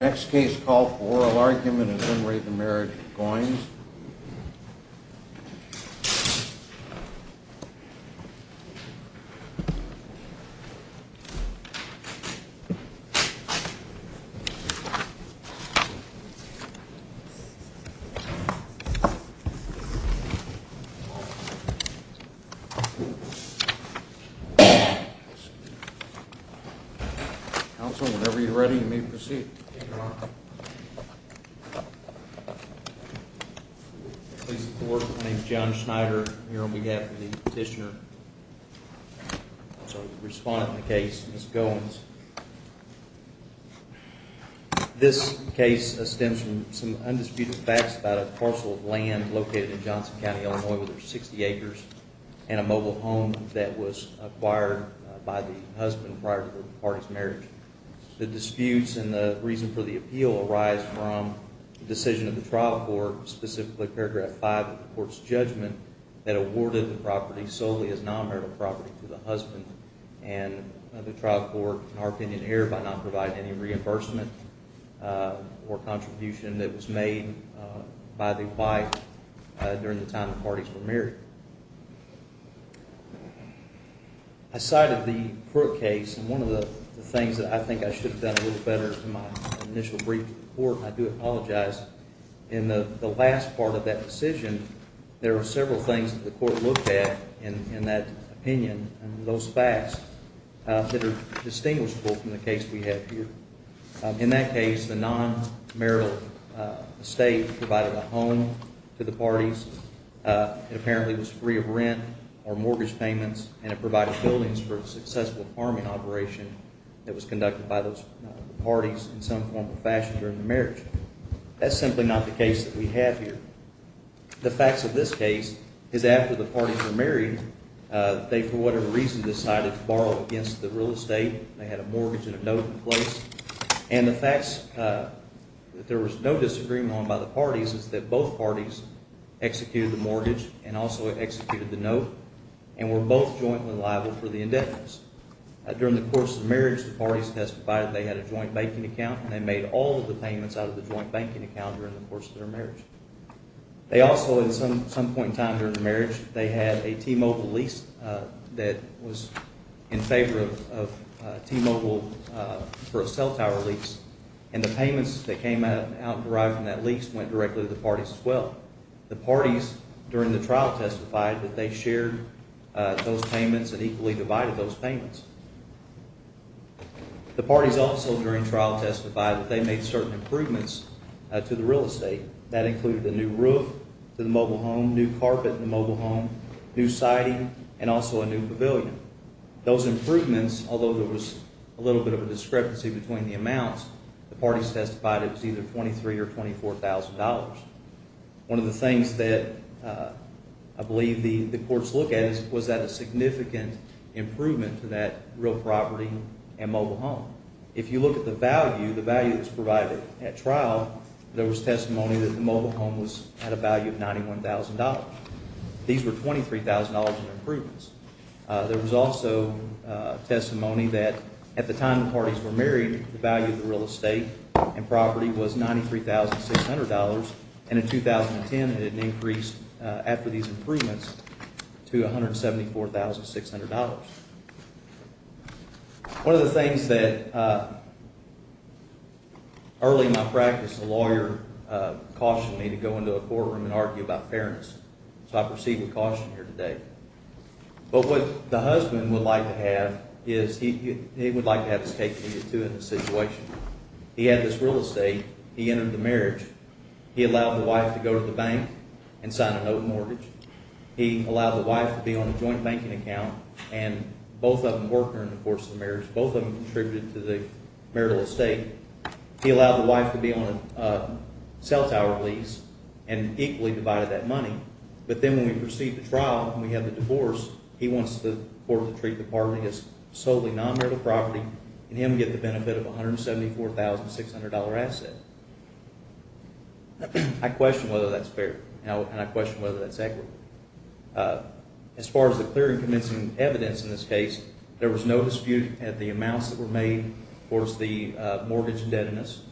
Next case, call for oral argument and enumerate the Marriage of Goines. Counsel, whenever you're ready, you may proceed. Please support. My name is John Schneider, here on behalf of the petitioner. I'm sorry, the respondent in the case, Ms. Goines. This case stems from some undisputed facts about a parcel of land located in Johnson County, Illinois, with over 60 acres, and a mobile home that was acquired by the husband prior to the party's marriage. The disputes and the reason for the appeal arise from the decision of the trial court, specifically paragraph 5 of the court's judgment, that awarded the property solely as non-marital property to the husband. And the trial court, in our opinion, erred by not providing any reimbursement or contribution that was made by the wife I cited the Crook case, and one of the things that I think I should have done a little better in my initial brief to the court, and I do apologize, in the last part of that decision, there were several things that the court looked at in that opinion, and those facts that are distinguishable from the case we have here. In that case, the non-marital estate provided a home to the parties. It apparently was free of rent or mortgage payments, and it provided buildings for a successful farming operation that was conducted by those parties in some form or fashion during the marriage. That's simply not the case that we have here. The facts of this case is after the parties were married, they, for whatever reason, decided to borrow against the real estate. They had a mortgage and a note in place. And the facts that there was no disagreement on by the parties is that both parties executed the mortgage and also executed the note and were both jointly liable for the indebtedness. During the course of the marriage, the parties testified they had a joint banking account, and they made all of the payments out of the joint banking account during the course of their marriage. They also, at some point in time during the marriage, they had a T-Mobile lease that was in favor of T-Mobile for a cell tower lease, and the payments that came out derived from that lease went directly to the parties as well. The parties during the trial testified that they shared those payments and equally divided those payments. The parties also during trial testified that they made certain improvements to the real estate. That included a new roof to the mobile home, new carpet in the mobile home, new siding, and also a new pavilion. Those improvements, although there was a little bit of a discrepancy between the amounts, the parties testified it was either $23,000 or $24,000. One of the things that I believe the courts look at is was that a significant improvement to that real property and mobile home. If you look at the value, the value that was provided at trial, there was testimony that the mobile home had a value of $91,000. These were $23,000 in improvements. There was also testimony that at the time the parties were married, the value of the real estate and property was $93,600, and in 2010 it had increased after these improvements to $174,600. One of the things that early in my practice, a lawyer cautioned me to go into a courtroom and argue about fairness, so I proceed with caution here today. But what the husband would like to have is he would like to have his case repeated too in this situation. He had this real estate. He entered the marriage. He allowed the wife to go to the bank and sign a note mortgage. He allowed the wife to be on a joint banking account, and both of them worked during the course of the marriage. Both of them contributed to the marital estate. He allowed the wife to be on a cell tower lease and equally divided that money. But then when we proceed to trial and we have the divorce, he wants the court to treat the party as solely non-marital property and him get the benefit of $174,600 asset. I question whether that's fair, and I question whether that's equitable. As far as the clear and convincing evidence in this case, there was no dispute at the amounts that were made towards the mortgage indebtedness.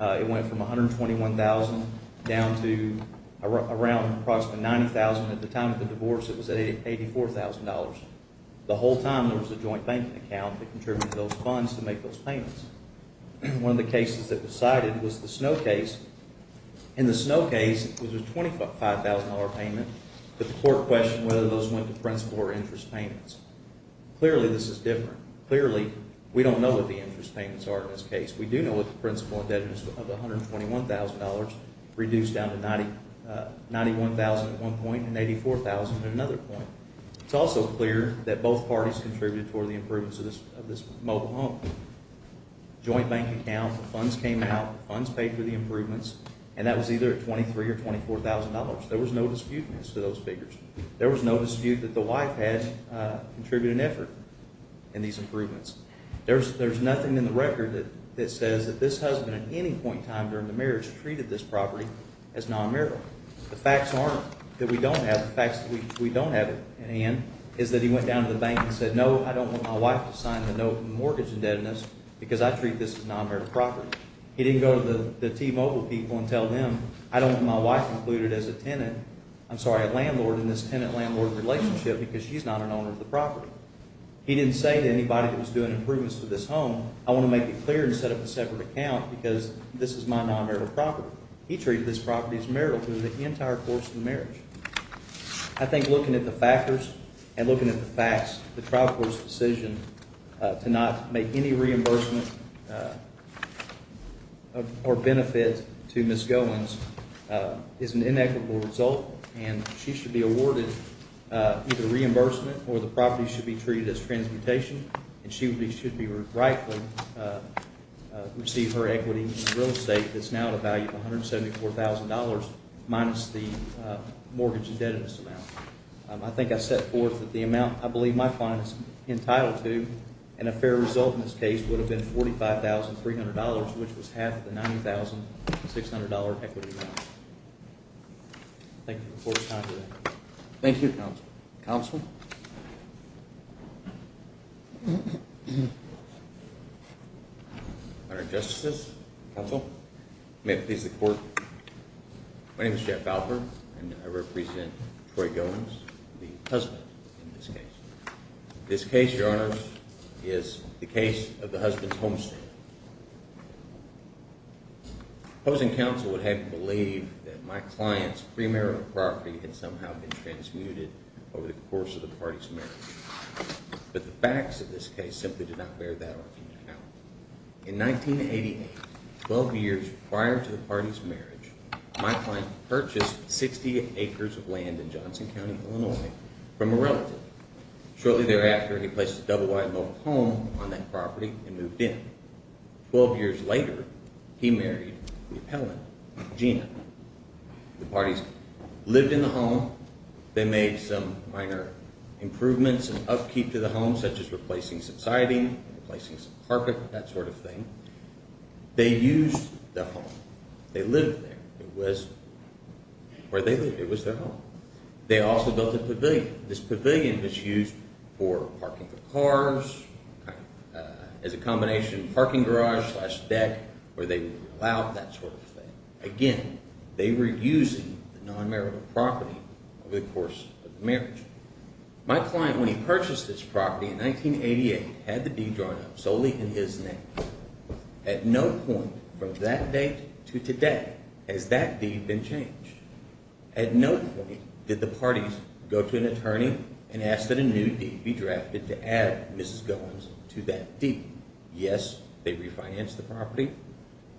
It went from $121,000 down to around approximately $90,000. At the time of the divorce, it was at $84,000. The whole time there was a joint banking account that contributed to those funds to make those payments. One of the cases that was cited was the Snow case. In the Snow case, it was a $25,000 payment, but the court questioned whether those went to principal or interest payments. Clearly, this is different. Clearly, we don't know what the interest payments are in this case. We do know that the principal indebtedness of $121,000 reduced down to $91,000 at one point and $84,000 at another point. It's also clear that both parties contributed toward the improvements of this mobile home. Joint banking account, the funds came out, the funds paid for the improvements, and that was either at $23,000 or $24,000. There was no dispute as to those figures. There was no dispute that the wife had contributed an effort in these improvements. There's nothing in the record that says that this husband at any point in time during the marriage treated this property as non-merit. The facts aren't that we don't have it. The facts that we don't have it, Ann, is that he went down to the bank and said, No, I don't want my wife to sign the note of mortgage indebtedness because I treat this as non-merit property. He didn't go to the T-Mobile people and tell them, I don't want my wife included as a tenant, I'm sorry, a landlord in this tenant-landlord relationship because she's not an owner of the property. He didn't say to anybody that was doing improvements to this home, I want to make it clear and set up a separate account because this is my non-merit property. He treated this property as merit through the entire course of the marriage. I think looking at the factors and looking at the facts, the trial court's decision to not make any reimbursement or benefit to Ms. Goins is an inequitable result, and she should be awarded either reimbursement or the property should be treated as transmutation, and she should be rightfully received her equity in real estate that's now at a value of $174,000 minus the mortgage indebtedness amount. I think I set forth that the amount I believe my client is entitled to, and a fair result in this case would have been $45,300, which was half of the $90,600 equity amount. Thank you for your time today. Thank you, Counsel. Counsel? Honorary Justices, Counsel, may it please the Court, my name is Jeff Valper, and I represent Troy Goins, the husband in this case. This case, Your Honors, is the case of the husband's homestead. Opposing Counsel would have you believe that my client's premarital property had somehow been transmuted over the course of the party's marriage, but the facts of this case simply do not bear that argument out. In 1988, 12 years prior to the party's marriage, my client purchased 60 acres of land in Johnson County, Illinois, from a relative. Shortly thereafter, he placed a double-wide-milled home on that property and moved in. Twelve years later, he married the appellant, Gina. The parties lived in the home. They made some minor improvements and upkeep to the home, such as replacing some siding, replacing some carpet, that sort of thing. They used the home. They lived there. It was where they lived. It was their home. They also built a pavilion. This pavilion was used for parking for cars, as a combination parking garage slash deck, where they would allow that sort of thing. Again, they were using the non-marital property over the course of the marriage. My client, when he purchased this property in 1988, had the deed drawn up solely in his name. At no point from that date to today has that deed been changed. At no point did the parties go to an attorney and ask that a new deed be drafted to add Mrs. Goins to that deed. Yes, they refinanced the property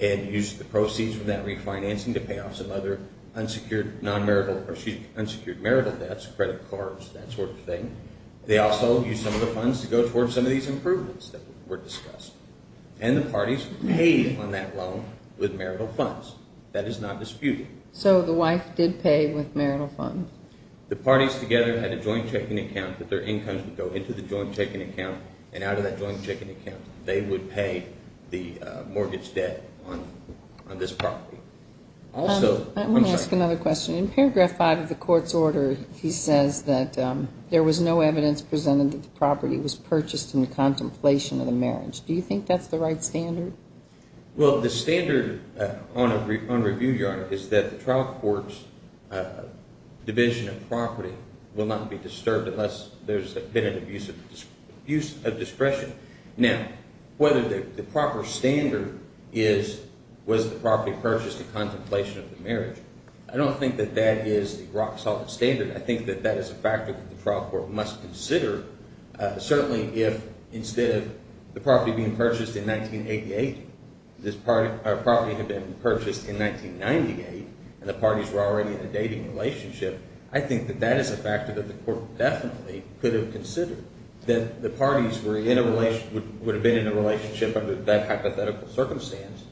and used the proceeds from that refinancing to pay off some other unsecured marital debts, credit cards, that sort of thing. They also used some of the funds to go towards some of these improvements that were discussed. And the parties paid on that loan with marital funds. That is not disputed. So the wife did pay with marital funds. The parties together had a joint checking account that their incomes would go into the joint checking account. And out of that joint checking account, they would pay the mortgage debt on this property. I want to ask another question. In paragraph 5 of the court's order, he says that there was no evidence presented that the property was purchased in contemplation of the marriage. Do you think that's the right standard? Well, the standard on review, Your Honor, is that the trial court's division of property will not be disturbed unless there's been an abuse of discretion. Now, whether the proper standard is was the property purchased in contemplation of the marriage, I don't think that that is the rock-solid standard. I think that that is a factor that the trial court must consider. Certainly, if instead of the property being purchased in 1988, this property had been purchased in 1998 and the parties were already in a dating relationship, I think that that is a factor that the court definitely could have considered, that the parties would have been in a relationship under that hypothetical circumstance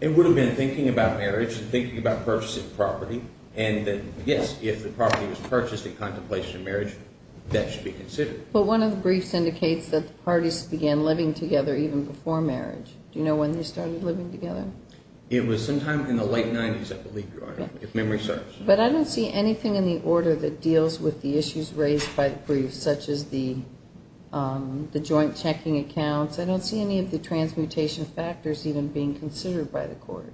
It would have been thinking about marriage and thinking about purchasing property. And yes, if the property was purchased in contemplation of marriage, that should be considered. But one of the briefs indicates that the parties began living together even before marriage. Do you know when they started living together? It was sometime in the late 90s, I believe, Your Honor, if memory serves. But I don't see anything in the order that deals with the issues raised by the briefs, such as the joint checking accounts. I don't see any of the transmutation factors even being considered by the court.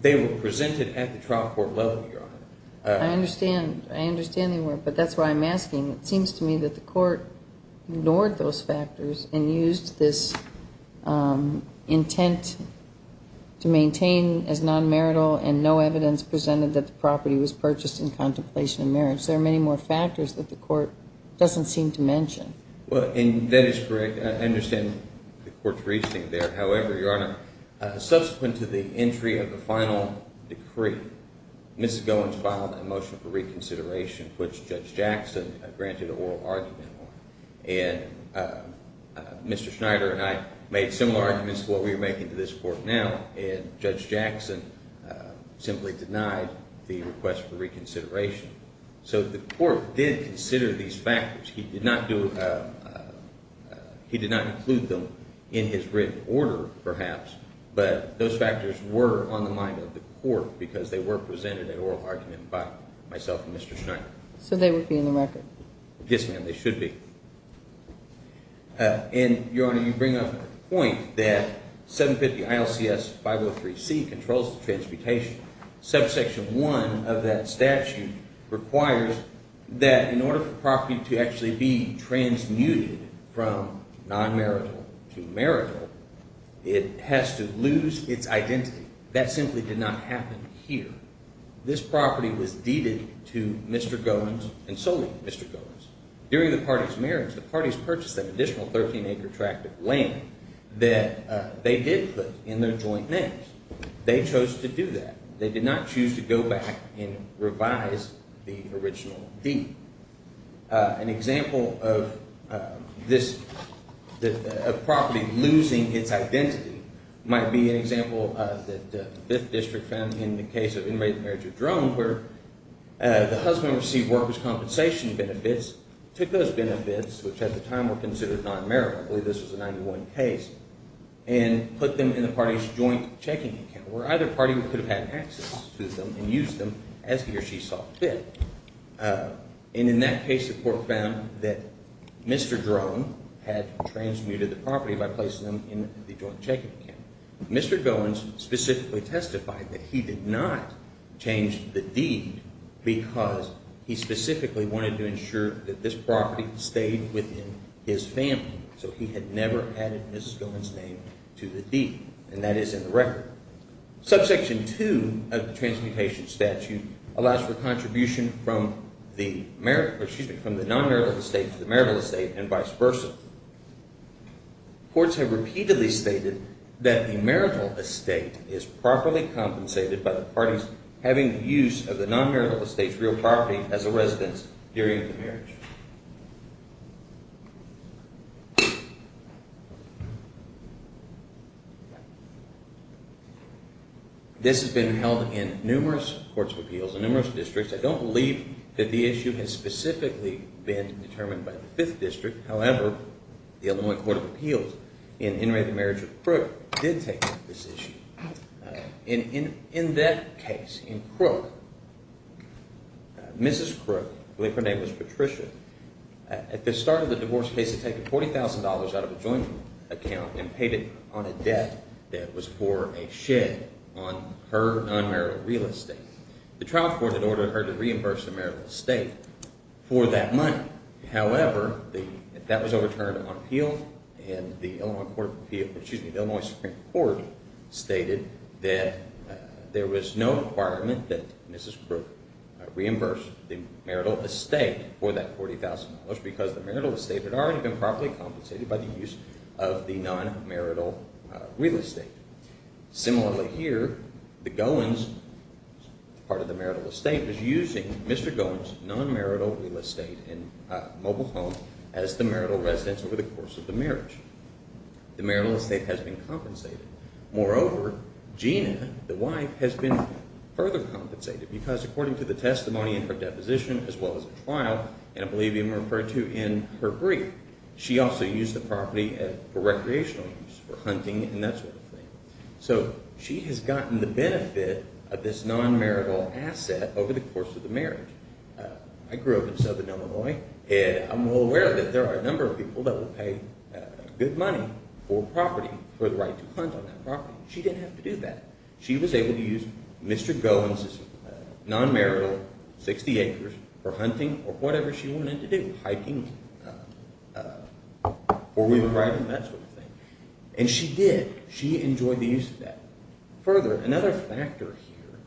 They were presented at the trial court level, Your Honor. I understand. I understand they were. But that's why I'm asking. It seems to me that the court ignored those factors and used this intent to maintain as non-marital and no evidence presented that the property was purchased in contemplation of marriage. There are many more factors that the court doesn't seem to mention. Well, and that is correct. I understand the court's reasoning there. However, Your Honor, subsequent to the entry of the final decree, Mrs. Goins filed a motion for reconsideration, which Judge Jackson granted an oral argument on. And Mr. Schneider and I made similar arguments to what we are making to this court now, and Judge Jackson simply denied the request for reconsideration. So the court did consider these factors. He did not include them in his written order, perhaps, but those factors were on the mind of the court because they were presented at oral argument by myself and Mr. Schneider. So they would be in the record? Yes, ma'am, they should be. And, Your Honor, you bring up the point that 750 ILCS 503C controls the transportation. Subsection 1 of that statute requires that in order for property to actually be transmuted from non-marital to marital, it has to lose its identity. That simply did not happen here. This property was deeded to Mr. Goins and solely Mr. Goins. During the party's marriage, the parties purchased that additional 13-acre tract of land that they did put in their joint names. They chose to do that. They did not choose to go back and revise the original deed. An example of this property losing its identity might be an example that the 5th District found in the case of intermarriage of drones where the husband received workers' compensation benefits, took those benefits, which at the time were considered non-marital, I believe this was a 91 case, and put them in the party's joint checking account where either party could have had access to them and used them as he or she saw fit. And in that case, the court found that Mr. Drone had transmuted the property by placing them in the joint checking account. Mr. Goins specifically testified that he did not change the deed because he specifically wanted to ensure that this property stayed within his family. So he had never added Mrs. Goins' name to the deed, and that is in the record. Subsection 2 of the transmutation statute allows for contribution from the non-marital estate to the marital estate and vice versa. Courts have repeatedly stated that the marital estate is properly compensated by the parties having use of the non-marital estate's real property as a residence during the marriage. This has been held in numerous courts of appeals in numerous districts. I don't believe that the issue has specifically been determined by the 5th District. However, the Illinois Court of Appeals in intermarriage of Crook did take this issue. In that case, in Crook, Mrs. Crook, I believe her name was Patricia, at the start of the divorce case had taken $40,000 out of a joint account and paid it on a debt that was for a shed on her non-marital real estate. The trial court had ordered her to reimburse the marital estate for that money. However, that was overturned on appeal, and the Illinois Supreme Court stated that there was no requirement that Mrs. Crook reimburse the marital estate for that $40,000 because the marital estate had already been properly compensated by the use of the non-marital real estate. Similarly here, the Goins, part of the marital estate, was using Mr. Goins' non-marital real estate and mobile home as the marital residence over the course of the marriage. The marital estate has been compensated. Moreover, Gina, the wife, has been further compensated because according to the testimony in her deposition as well as the trial, and I believe even referred to in her brief, she also used the property for recreational use, for hunting and that sort of thing. So, she has gotten the benefit of this non-marital asset over the course of the marriage. I grew up in southern Illinois, and I'm well aware that there are a number of people that will pay good money for property, for the right to hunt on that property. She didn't have to do that. She was able to use Mr. Goins' non-marital 60 acres for hunting or whatever she wanted to do, hiking, four-wheeler riding, that sort of thing. And she did. She enjoyed the use of that. Further, another factor here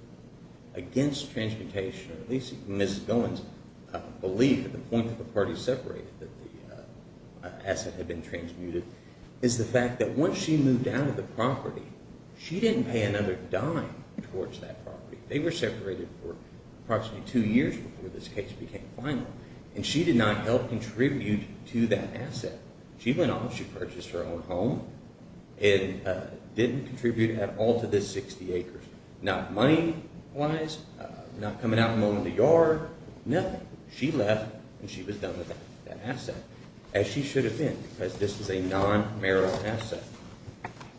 against transmutation, or at least Ms. Goins believed at the point that the parties separated that the asset had been transmuted, is the fact that once she moved out of the property, she didn't pay another dime towards that property. They were separated for approximately two years before this case became final, and she did not help contribute to that asset. She went off, she purchased her own home, and didn't contribute at all to this 60 acres. Not money-wise, not coming out and owning the yard, nothing. She left, and she was done with that asset, as she should have been, because this is a non-marital asset.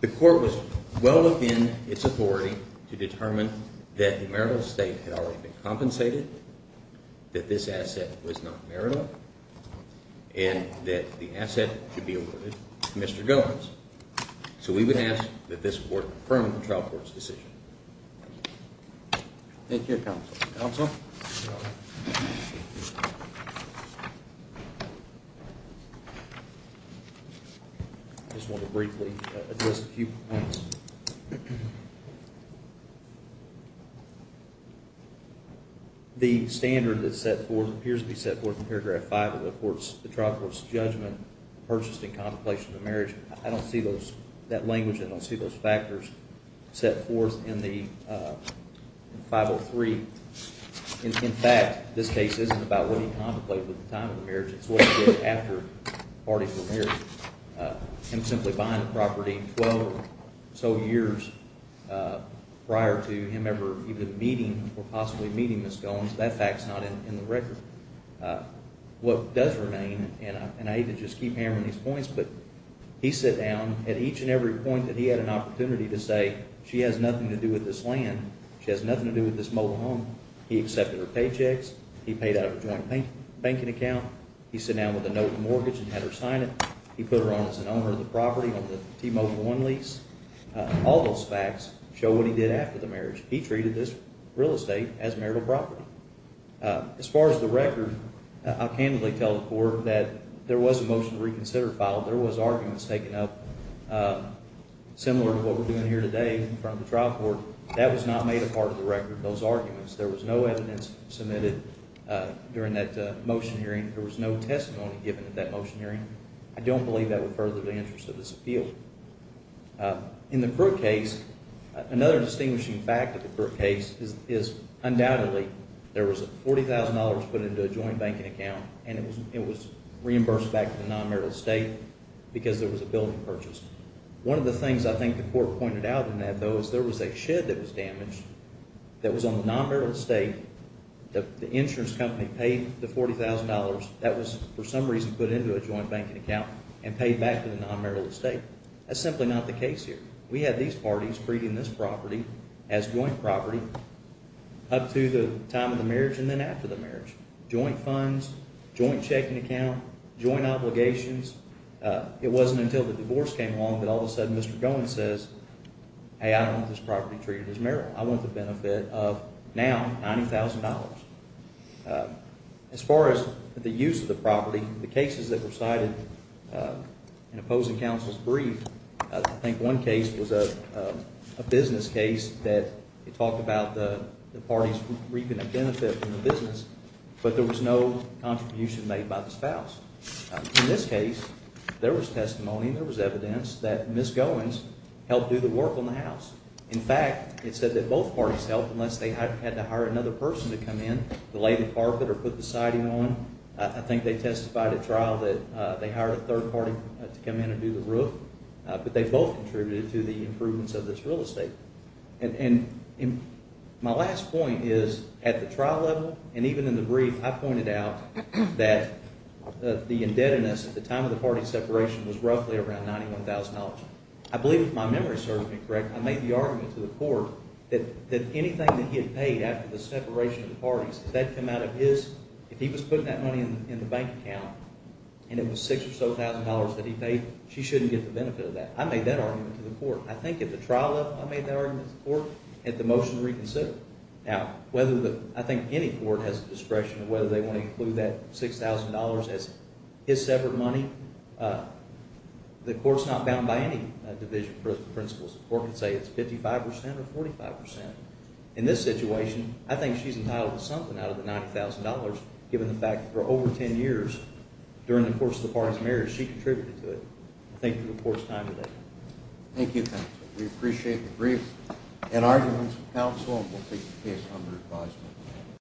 The court was well within its authority to determine that the marital estate had already been compensated, that this asset was not marital, and that the asset should be awarded to Mr. Goins. So we would ask that this court confirm the trial court's decision. Thank you, Counsel. Counsel? Yes, Your Honor. I just want to briefly address a few points. The standard that appears to be set forth in paragraph 5 of the trial court's judgment, purchased in contemplation of marriage, I don't see that language and I don't see those factors set forth in 503. In fact, this case isn't about what he contemplated at the time of the marriage, it's what he did after the parties were married. Him simply buying the property 12 or so years prior to him ever even meeting or possibly meeting Ms. Goins, that fact's not in the record. What does remain, and I hate to just keep hammering these points, but he sat down at each and every point that he had an opportunity to say she has nothing to do with this land, she has nothing to do with this mobile home. He accepted her paychecks, he paid out of a joint banking account, he sat down with a note of mortgage and had her sign it, he put her on as an owner of the property on the T-Mobile One lease. All those facts show what he did after the marriage. He treated this real estate as marital property. As far as the record, I'll candidly tell the court that there was a motion to reconsider filed, there was arguments taken up similar to what we're doing here today in front of the trial court. That was not made a part of the record, those arguments. There was no evidence submitted during that motion hearing. There was no testimony given at that motion hearing. I don't believe that would further the interest of this appeal. In the Crook case, another distinguishing fact of the Crook case is undoubtedly there was $40,000 put into a joint banking account and it was reimbursed back to the non-marital estate because there was a building purchased. One of the things I think the court pointed out in that though is there was a shed that was damaged that was on the non-marital estate, the insurance company paid the $40,000, that was for some reason put into a joint banking account and paid back to the non-marital estate. That's simply not the case here. We had these parties treating this property as joint property up to the time of the marriage and then after the marriage. Joint funds, joint checking account, joint obligations. It wasn't until the divorce came along that all of a sudden Mr. Goen says, hey, I don't want this property treated as marital. I want the benefit of now $90,000. As far as the use of the property, the cases that were cited in opposing counsel's brief, I think one case was a business case that talked about the parties reaping a benefit from the business, but there was no contribution made by the spouse. In this case, there was testimony and there was evidence that Ms. Goen's helped do the work on the house. In fact, it said that both parties helped unless they had to hire another person to come in to lay the carpet or put the siding on. I think they testified at trial that they hired a third party to come in and do the roof, but they both contributed to the improvements of this real estate. And my last point is at the trial level and even in the brief, I pointed out that the indebtedness at the time of the party separation was roughly around $91,000. I believe if my memory serves me correct, I made the argument to the court that anything that he had paid after the separation of the parties, if he was putting that money in the bank account and it was $6,000 or so that he paid, she shouldn't get the benefit of that. I made that argument to the court. I think at the trial level I made that argument to the court at the motion to reconsider. Now, I think any court has the discretion of whether they want to include that $6,000 as his separate money. The court's not bound by any division principles. The court can say it's 55% or 45%. In this situation, I think she's entitled to something out of the $90,000 given the fact that for over 10 years during the course of the party's marriage, she contributed to it. Thank you for your time today. Thank you, counsel. We appreciate the brief. In arguments, counsel will take the case under advisement.